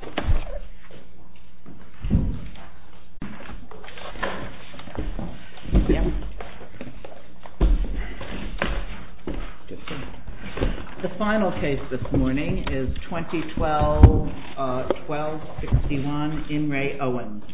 The final case this morning is 2012-12-61, In Re Owens.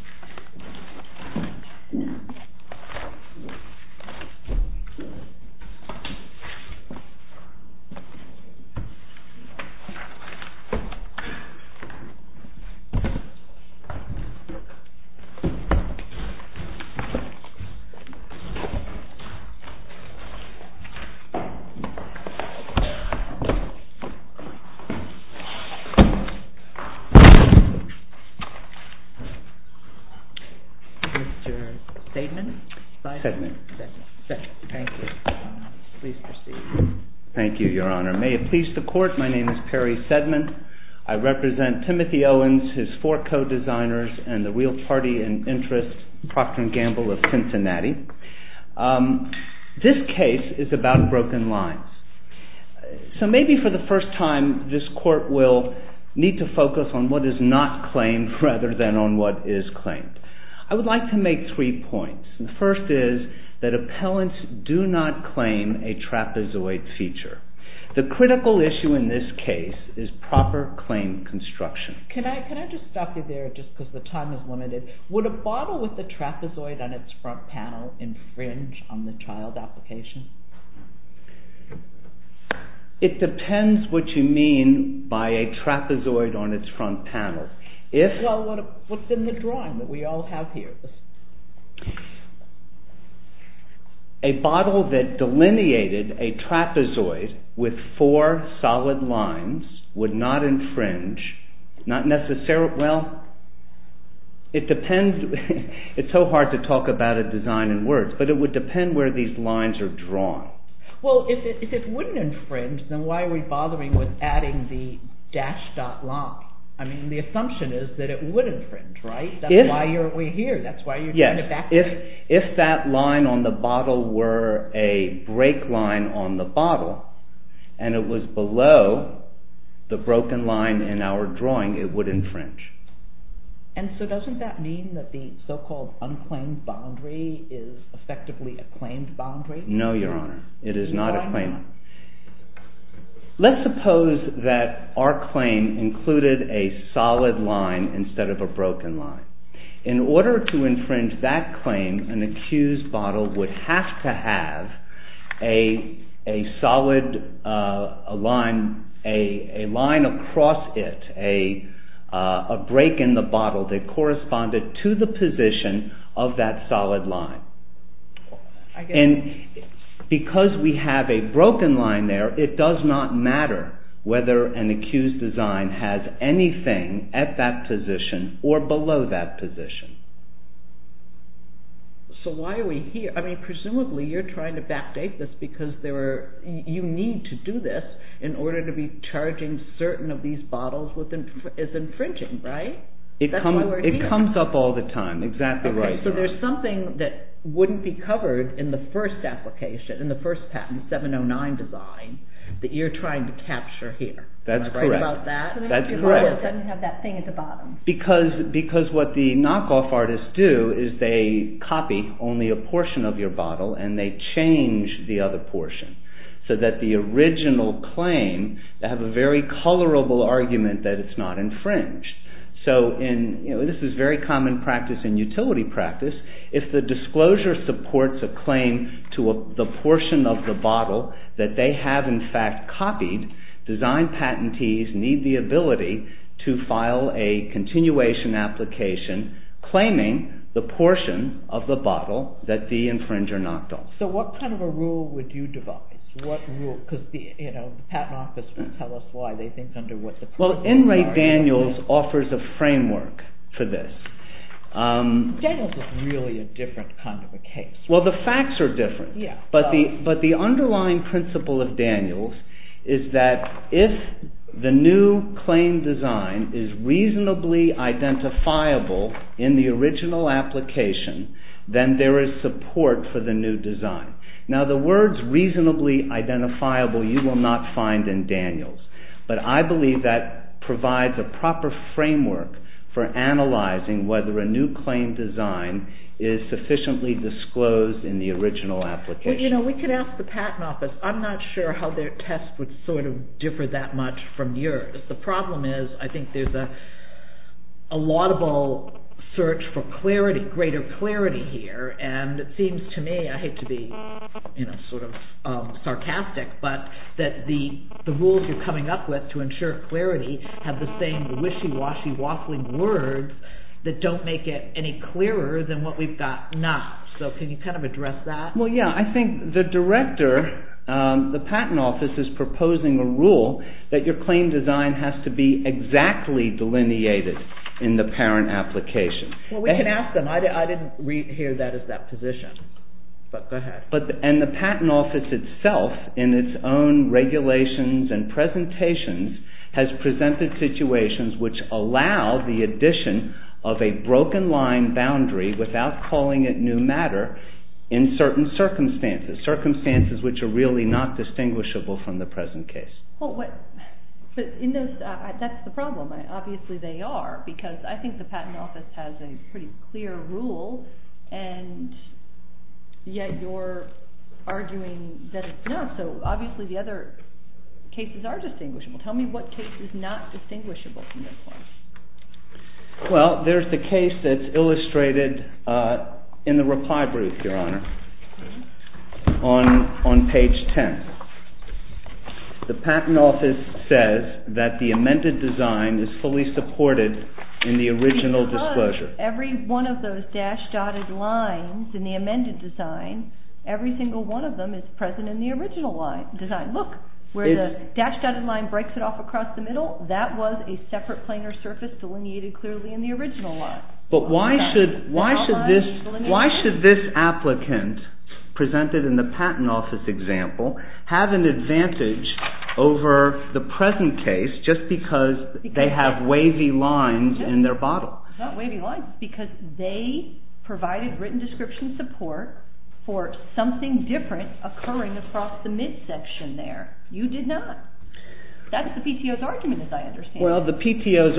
Thank you, Your Honor. May it please the Court, my name is Perry Sedman. I represent Timothy Owens, his four co-designers, and the real party in interest, Procter & Gamble of Cincinnati. This case is about broken lines. So maybe for the first time this Court will need to focus on what is not claimed rather than on what is claimed. I would like to make three points. The first is that appellants do not claim a trapezoid feature. The critical issue in this case is proper claim construction. It depends what you mean by a trapezoid on would not infringe. It is so hard to talk about a design in words, but it would depend where these lines are drawn. If it would not infringe, then why are we bothering with adding the dash dot line? The assumption is that it would infringe. If that line on the bottle were a break line on the bottle, and it was below the broken line in our drawing, it would infringe. And so doesn't that mean that the so-called unclaimed boundary is effectively a claimed boundary? No, Your Honor, it is not a claimed boundary. Let's suppose that our claim included a solid line instead of a broken line. In order to infringe that claim, an accused bottle would have to have a solid line, a line across it, a break in the bottle that corresponded to the position of that solid line. And because we have a broken line there, it does not matter whether an accused design has anything at that position or below that position. So why are we here? I mean, presumably you're trying to backdate this because you need to do this in order to be charging certain of these bottles as infringing, right? It comes up all the time, exactly right. So there's something that wouldn't be covered in the first application, in the first patent, 709 design, that you're trying to capture here. That's correct. Because because what the knockoff artists do is they copy only a portion of your bottle and they change the other portion so that the original claim, they have a very colorable argument that it's not infringed. So this is very common practice in utility practice. If the disclosure supports a claim to the portion of the bottle that they have in fact copied, design patentees need the a continuation application claiming the portion of the bottle that the infringer knocked off. So what kind of a rule would you devise? Because the patent office will tell us why they think under what the... Well, N. Ray Daniels offers a framework for this. Daniels is really a different kind of a case. Well, the facts are different. But the underlying principle of Daniels is that if the new claim design is reasonably identifiable in the original application, then there is support for the new design. Now the words reasonably identifiable you will not find in Daniels. But I believe that provides a proper framework for analyzing whether a new claim design is sufficiently disclosed in the original application. You know, we could ask the that much from yours. The problem is I think there's a laudable search for clarity, greater clarity here. And it seems to me, I hate to be sort of sarcastic, but that the rules you're coming up with to ensure clarity have the same wishy-washy waffling words that don't make it any clearer than what we've got now. So can you kind of address that? Well, yeah, I think the patent office is proposing a rule that your claim design has to be exactly delineated in the parent application. Well, we can ask them. I didn't hear that as that position. But go ahead. And the patent office itself in its own regulations and presentations has presented situations which allow the addition of a broken line boundary without calling it new matter in certain circumstances. Circumstances which are really not distinguishable from the present case. But that's the problem. Obviously they are because I think the patent office has a pretty clear rule and yet you're arguing that it's not. So obviously the other cases are distinguishable. Tell me what case is not distinguishable from this one. Well, there's the case that's illustrated in the reply proof, your honor, on page 10. The patent office says that the amended design is fully supported in the original disclosure. Because every one of those dashed dotted lines in the amended design, every single one of them is present in the original design. Look, where the dashed dotted line breaks it off across the middle, that was a separate planar surface delineated clearly in the original line. But why should this applicant presented in the patent office example have an advantage over the present case just because they have wavy lines in their bottle? It's not wavy lines. It's because they provided written description support for something different occurring across the mid section there. You did not. That's the PTO's argument as I understand it. Well, the PTO's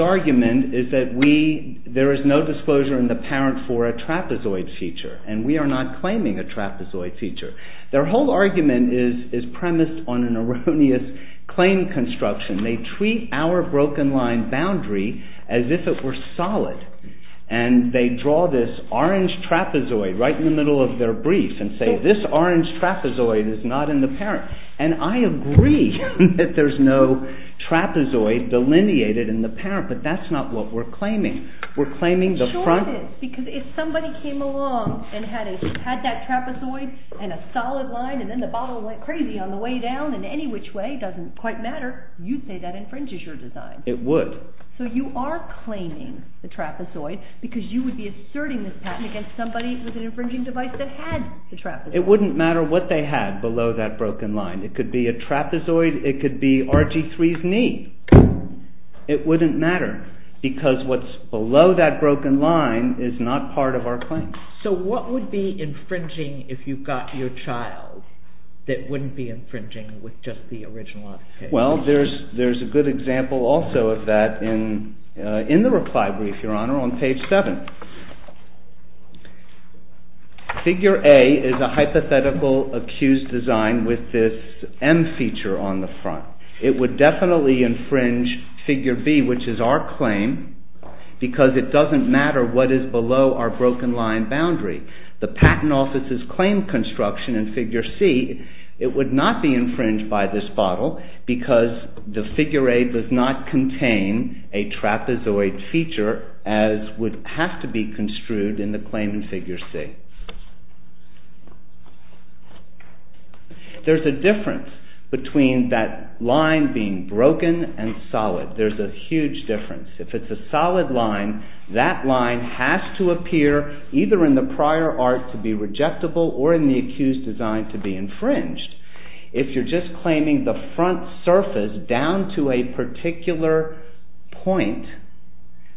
there is no disclosure in the parent for a trapezoid feature and we are not claiming a trapezoid feature. Their whole argument is premised on an erroneous claim construction. They treat our broken line boundary as if it were solid and they draw this orange trapezoid right in the middle of their brief and say this orange trapezoid is not in the parent. And I agree that there's no trapezoid delineated in the parent, but that's not what we're claiming. We're claiming the front. Because if somebody came along and had that trapezoid and a solid line and then the bottle went crazy on the way down in any which way, doesn't quite matter, you'd say that infringes your design. It would. So you are claiming the trapezoid because you would be asserting this patent against somebody with an infringing device that had the trapezoid. It wouldn't matter what they had below that broken line. It could be RG3's knee. It wouldn't matter because what's below that broken line is not part of our claim. So what would be infringing if you got your child that wouldn't be infringing with just the original? Well there's there's a good example also of that in in the reply brief, Your Honor, on page 7. Figure A is a hypothetical accused design with this M feature on the front. It would definitely infringe figure B, which is our claim, because it doesn't matter what is below our broken line boundary. The Patent Office's claim construction in figure C, it would not be infringed by this would not contain a trapezoid feature as would have to be construed in the claim in figure C. There's a difference between that line being broken and solid. There's a huge difference. If it's a solid line, that line has to appear either in the prior art to be rejectable or in the accused design to be infringed. If you're just claiming the front surface down to a particular point,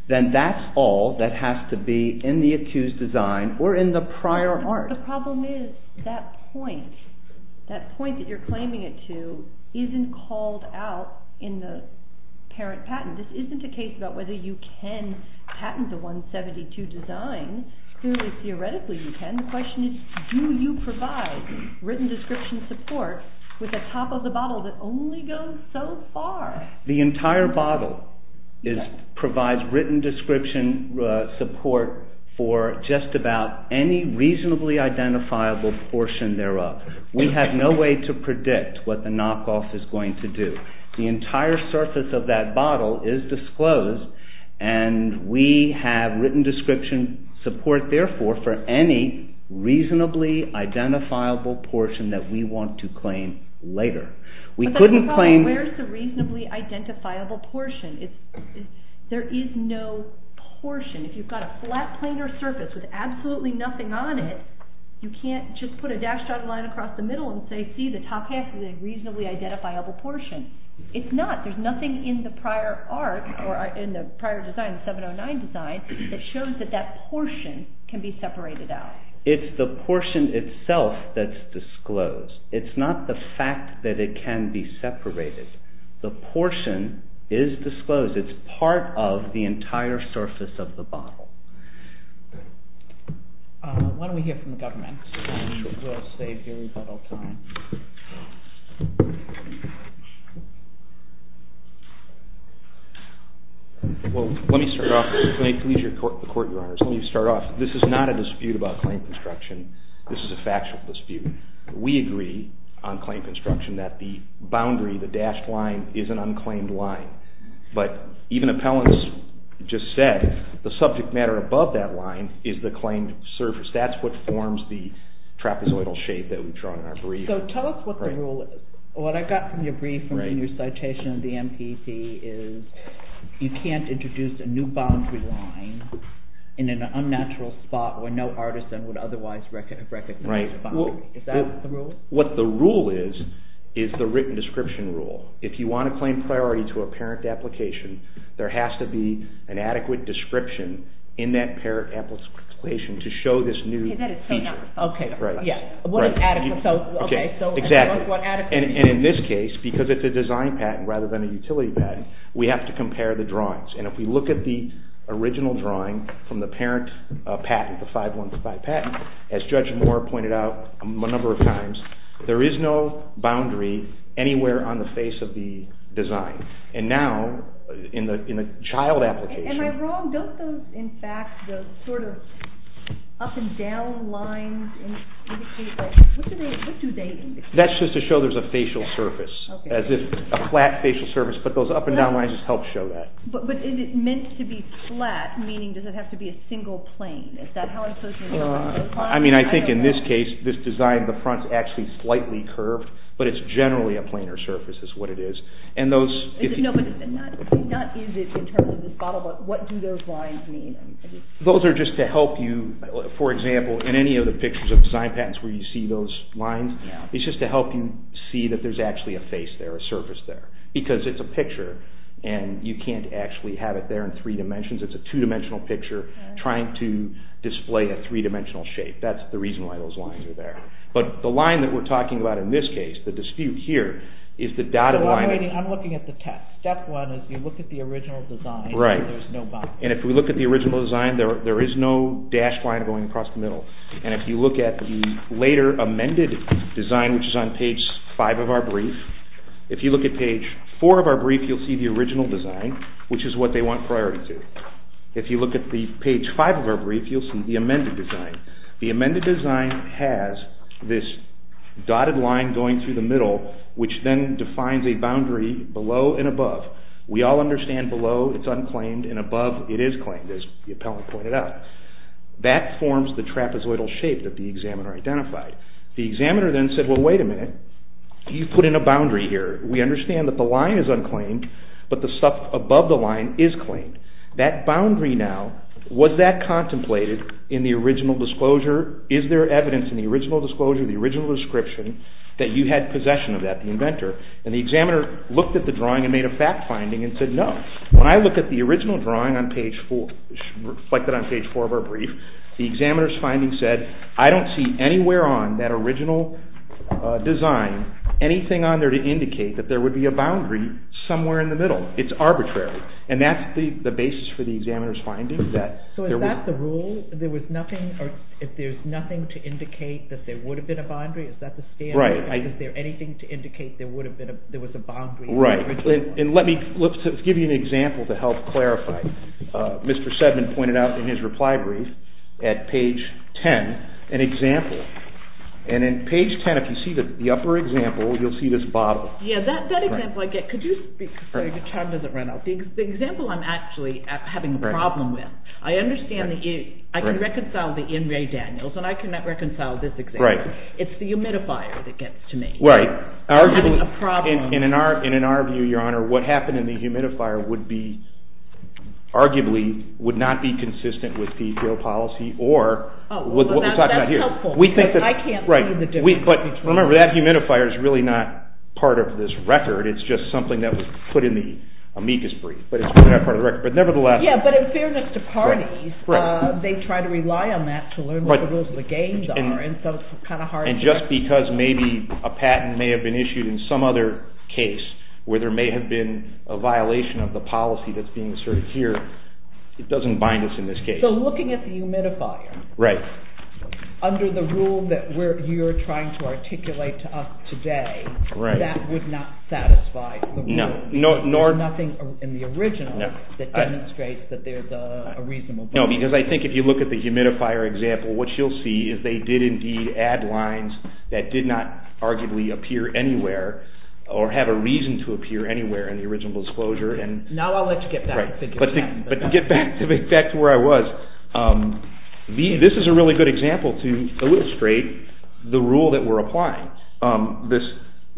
then that's all that has to be in the accused design or in the prior art. The problem is that point, that point that you're claiming it to isn't called out in the parent patent. This isn't a case about whether you can patent the 172 design. Clearly, theoretically you can. The question is, do you provide written description support with the top of the bottle that only goes so far? The entire bottle provides written description support for just about any reasonably identifiable portion thereof. We have no way to and we have written description support therefore for any reasonably identifiable portion that we want to claim later. We couldn't claim... Where's the reasonably identifiable portion? There is no portion. If you've got a flat planar surface with absolutely nothing on it, you can't just put a dashed dotted line across the middle and say, see the top half is a reasonably identifiable portion. It's not. There's nothing in the prior art or in the prior design, the 709 design, that shows that that portion can be separated out. It's the portion itself that's disclosed. It's not the fact that it can be separated. The portion is disclosed. It's part of the entire surface of the bottle. Why don't we hear from the government and we'll save you a little time. Well, let me start off, may it please the court, your honors, let me start off. This is not a dispute about claim construction. This is a factual dispute. We agree on claim construction that the boundary, the dashed line, is an unclaimed line. But even appellants just said the subject matter above that line is the claimed surface. That's what forms the trapezoidal shape that we've drawn in our brief. So tell us what the rule is. What I got from your brief and your citation of the MPP is you can't introduce a new boundary line in an unnatural spot where no artisan would otherwise recognize a boundary. Is that the rule? What the rule is, is the written description rule. If you want to claim priority to a parent application, there has to be an adequate description in that parent application to show this new feature. And in this case, because it's a design patent rather than a utility patent, we have to compare the drawings. And if we look at the original drawing from the parent patent, the 5-1-5 patent, as Judge Moore pointed out a number of times, there is no boundary anywhere on the face of the design. And now, in the child application... Am I wrong? Don't those, in fact, those sort of up and down lines indicate that? What do they indicate? That's just to show there's a facial surface, as if a flat facial surface, but those up and down lines just help show that. But is it meant to be flat, meaning does it have to be a single plane? Is that how it's supposed to be? I mean, I think in this case, this design, the front's actually slightly curved, but it's generally a planar surface is what it is. And those... No, but not is it in terms of this bottle, but what do those lines mean? Those are just to help you, for example, in any of the pictures of design patents where you see those lines, it's just to help you see that there's actually a face there, a surface there, because it's a picture, and you can't actually have it there in three dimensions. It's a two-dimensional picture trying to display a three-dimensional shape. That's the reason why those lines are there. But the line that we're talking about in this case, the dispute here, is the dotted line... I'm looking at the text. Step one is you look at the original design, and there's no boundary. And if we look at the original design, there is no dashed line going across the middle. And if you look at the later amended design, which is on page five of our brief, if you look at page four of our brief, you'll see the original design, which is what they want priority to. If you look at the page five of our brief, you'll see the amended design. The amended design has this dotted line going through the middle, which then defines a boundary below and above. We all understand below, it's unclaimed, and above, it is claimed, as the appellant pointed out. That forms the trapezoidal shape that the examiner identified. The examiner then said, well, wait a minute. You've put in a boundary here. We understand that the line is unclaimed, but the stuff above the line is claimed. That boundary now, was that contemplated in the original disclosure? Is there evidence in the original disclosure, the original description, that you had possession of that, the inventor? And the examiner looked at the drawing and made a fact finding and said, no. When I look at the original drawing on page four, reflected on page four of our brief, the examiner's finding said, I don't see anywhere on that original design, anything on there to indicate that there would be a boundary somewhere in the middle. It's arbitrary. And that's the basis for the examiner's finding. So is that the rule? There was nothing, or if there's nothing to indicate that there would have been a boundary, is that the standard? Right. Is there anything to indicate there would have been a, there was a boundary? Right. And let me, let's give you an example to help clarify. Mr. Sedman pointed out in his reply brief at page ten, an example. And in page ten, if you see the upper example, you'll see this bottle. Yeah, that example I get, could you speak, sorry, your time doesn't run out. The example I'm actually having a problem with, I understand the, I can reconcile the in re Daniels, and I cannot reconcile this example. Right. It's the humidifier that gets to me. Right. And in our view, your honor, what happened in the humidifier would be, arguably, would not be consistent with the real policy, or with what we're talking about here. Oh, well that's helpful, because I can't see the difference between. Right. But remember, that humidifier is really not part of this record. It's just something that was put in the amicus brief. But it's not part of the record. But nevertheless. Yeah, but in fairness to parties, they try to rely on that to learn what the rules of the game are, and so it's kind of hard to. And just because maybe a patent may have been issued in some other case, where there may have been a violation of the policy that's being asserted here, it doesn't bind us in this case. So looking at the humidifier. Right. Under the rule that we're, you're trying to articulate to us today. Right. That would not satisfy the rule. No, nor. Nothing in the original. No. That demonstrates that there's a reasonable. No, because I think if you look at the humidifier example, what you'll see is they did indeed add lines that did not arguably appear anywhere, or have a reason to appear anywhere in the original disclosure. And. Now I'll let you get back to the discussion. But to get back to where I was, this is a really good example to illustrate the rule that we're applying.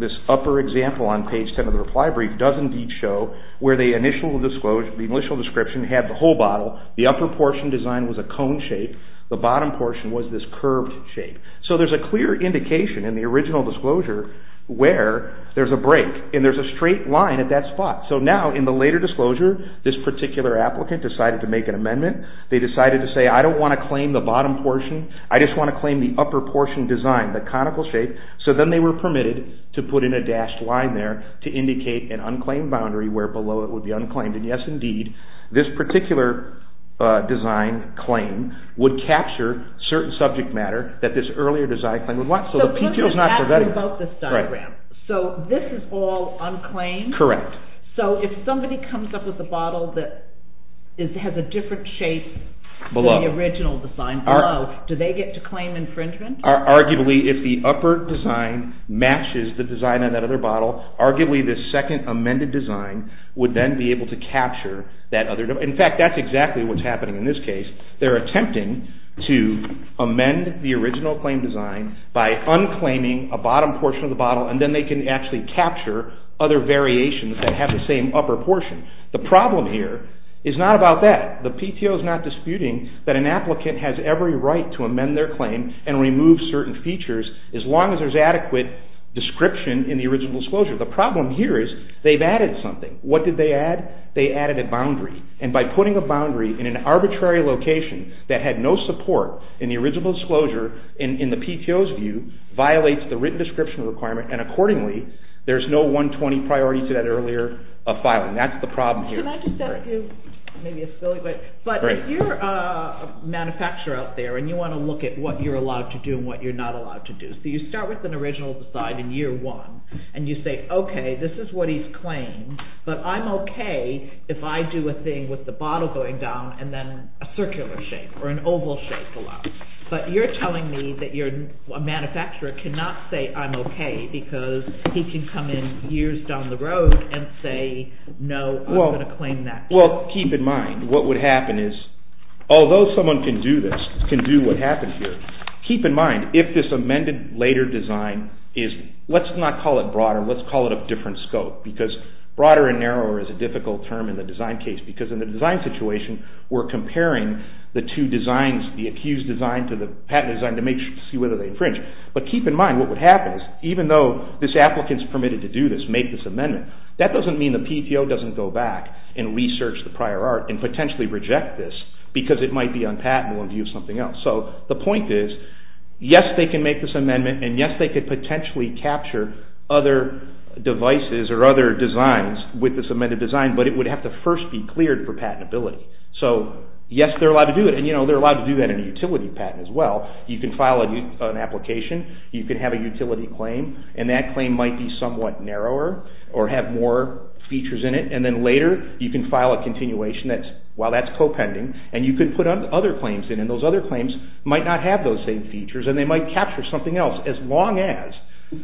This upper example on page 10 of the reply brief does indeed show where the initial description had the whole bottle. The upper portion design was a cone shape. The bottom portion was this curved shape. So there's a clear indication in the original disclosure where there's a break. And there's a straight line at that spot. So now in the later disclosure, this particular applicant decided to make an amendment. They decided to say, I don't want to claim the bottom portion. I just want to claim the upper portion design, the conical shape. So then they were permitted to put in a dashed line there to indicate an unclaimed boundary where below it would be unclaimed. And yes indeed, this particular design claim would capture certain subject matter that this earlier design claim would want. So the PTO is not preventative. So this is all unclaimed? Correct. So if somebody comes up with a bottle that has a different shape than the original design below, do they get to claim infringement? Arguably, if the upper design matches the design on that other bottle, arguably the second amended design would then be able to capture that other. In fact, that's exactly what's happening in this case. They're attempting to amend the original claim design by unclaiming a bottom portion of the bottle and then they can actually capture other variations that have the same upper portion. The problem here is not about that. The PTO is not disputing that an applicant has every right to amend their claim and remove certain features as long as there's adequate description in the original disclosure. The problem here is they've added something. What did they add? They added a boundary. And by putting a boundary in an arbitrary location that had no support in the original disclosure in the PTO's view violates the written description requirement and accordingly there's no 120 priority to that earlier filing. That's the problem here. Can I just add a few, maybe a silly but, but if you're a manufacturer out there and you want to look at what you're allowed to do and what you're not allowed to do. So you start with an original design in year one and you say, okay, this is what he's claimed, but I'm okay if I do a thing with the bottle going down and then a circular shape or an oval shape below, but you're telling me that you're, a manufacturer cannot say I'm okay because he can come in years down the road and say no I'm going to claim that. Well keep in mind what would happen is although someone can do this, can do what happened here, keep in mind if this amended later design is, let's not call it broader, let's call it a different scope because broader and narrower is a difficult term in the design case because in the design situation we're comparing the two designs, the accused design to the patent design to see whether they infringe. But keep in mind what would happen is even though this applicant is permitted to do this, make this amendment, that doesn't mean the PTO doesn't go back and research the prior art and potentially reject this because it might be unpatentable in view of something else. So the point is yes they can make this amendment and yes they could potentially capture other devices or other designs with this amended design but it would have to first be cleared for patentability. So yes they're allowed to do it and you know they're allowed to do that in a utility patent as well. You can file an application, you can have a utility claim and that claim might be somewhat narrower or have more features in it and then later you can file a continuation while that's co-pending and you can put other claims in and those other claims might not have those same features and they might capture something else as long as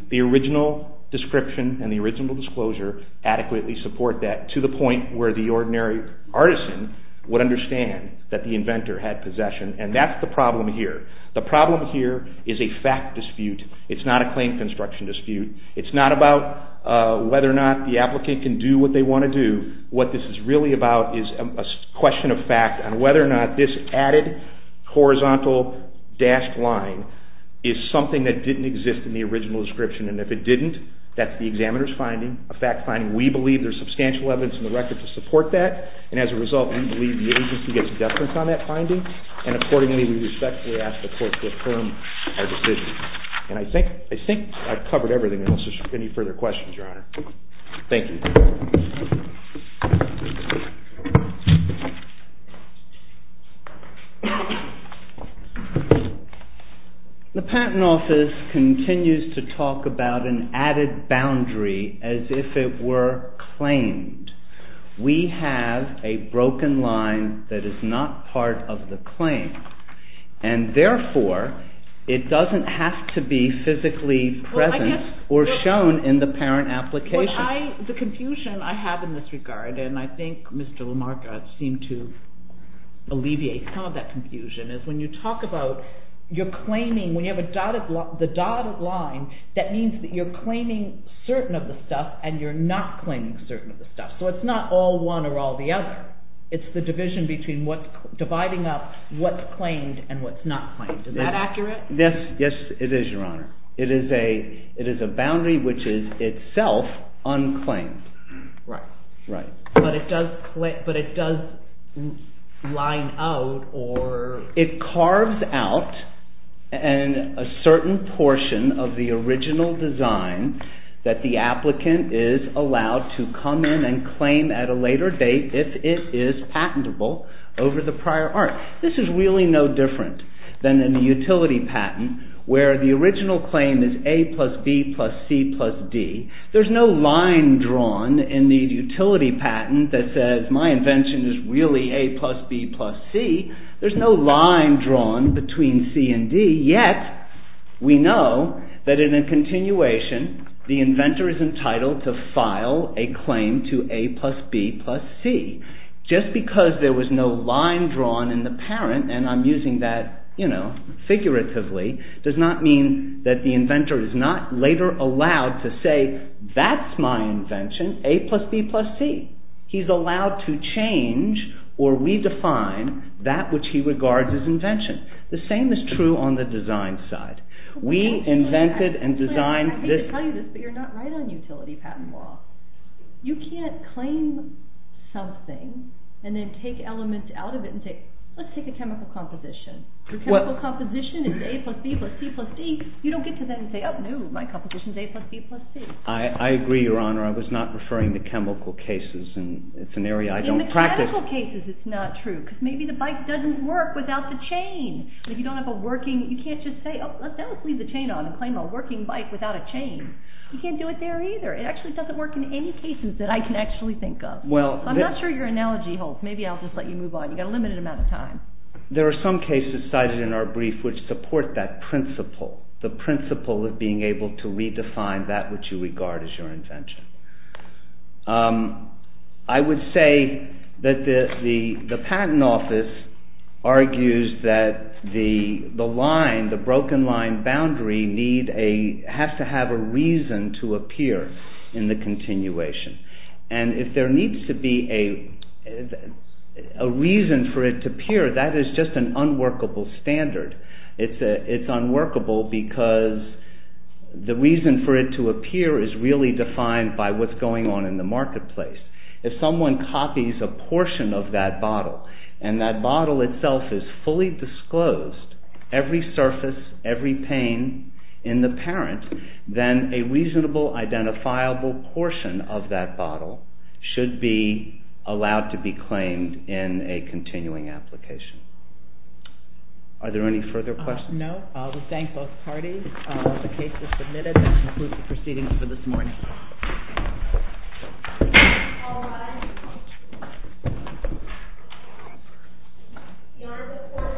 the original description and the original disclosure adequately support that to the point where the ordinary artisan would understand that the inventor had possession and that's the problem here. The problem here is a fact dispute. It's not a claim construction dispute. It's not about whether or not the applicant can do what they want to do. What this is really about is a question of fact and whether or not this added horizontal dashed line is something that didn't exist in the original description and if it didn't, that's the examiner's finding, a fact finding. We believe there's substantial evidence in the record to support that and as a result, we believe the agency gets a deference on that finding and accordingly, we respectfully ask the court to affirm our decision. And I think I've covered everything unless there's any further questions, Your Honor. Thank you. The Patent Office continues to talk about an added boundary as if it were claimed. We have a broken line that is not part of the claim and therefore, it doesn't have to be physically present or shown in the parent application. The confusion I have in this regard and I think Mr. Lamarck seemed to alleviate some of that confusion is when you talk about you're claiming, when you have the dotted line, that means that you're claiming certain of the stuff and you're not claiming certain of the stuff. So it's not all one or all the other. It's the division between what's dividing up what's claimed and what's not claimed. Is that accurate? Yes, it is, Your Honor. It is a boundary which is itself unclaimed. Right. Right. But it does line out or... It carves out a certain portion of the original design that the applicant is allowed to come in and claim at a later date if it is patentable over the prior art. This is really no different than in the utility patent where the original claim is A plus B plus C plus D. There's no line drawn in the utility patent that says my invention is really A plus B plus C. There's no line drawn between C and D yet we know that in a continuation, the inventor is entitled to file a claim to A plus B plus C. Just because there was no line drawn in the parent and I'm using that figuratively does not mean that the inventor is not later allowed to say that's my invention A plus B plus C. He's allowed to change or redefine that which he regards as invention. The same is true on the design side. We invented and designed this... I hate to tell you this but you're not right on utility patent law. You can't claim something and then take elements out of it and say let's take a chemical composition. The chemical composition is A plus B plus C plus D. You don't get to then say oh no my composition is A plus B plus C. I agree your honor I was not referring to chemical cases and it's an area I don't practice. In mechanical cases it's not true because maybe the bike doesn't work without the chain. If you don't have a working... You can't just say oh let's leave the chain on and claim a working bike without a chain. You can't do it there either. It actually doesn't work in any cases that I can actually think of. Well... I'm not sure your analogy holds. Maybe I'll just let you move on. You got a limited amount of time. There are some cases cited in our brief which support that principle. The principle of being able to redefine that which you regard as your invention. I would say that the patent office argues that the line, the broken line boundary need a... in the continuation. And if there needs to be a reason for it to appear that is just an unworkable standard. It's unworkable because the reason for it to appear is really defined by what's going on in the marketplace. If someone copies a portion of that bottle and that bottle itself is fully disclosed, every surface, every pane in the parent, then a reasonable identifiable portion of that bottle should be allowed to be claimed in a continuing application. Are there any further questions? No. I would thank both parties. The case is submitted. That concludes the proceedings for this morning. All rise. Your report is adjourned until tomorrow afternoon.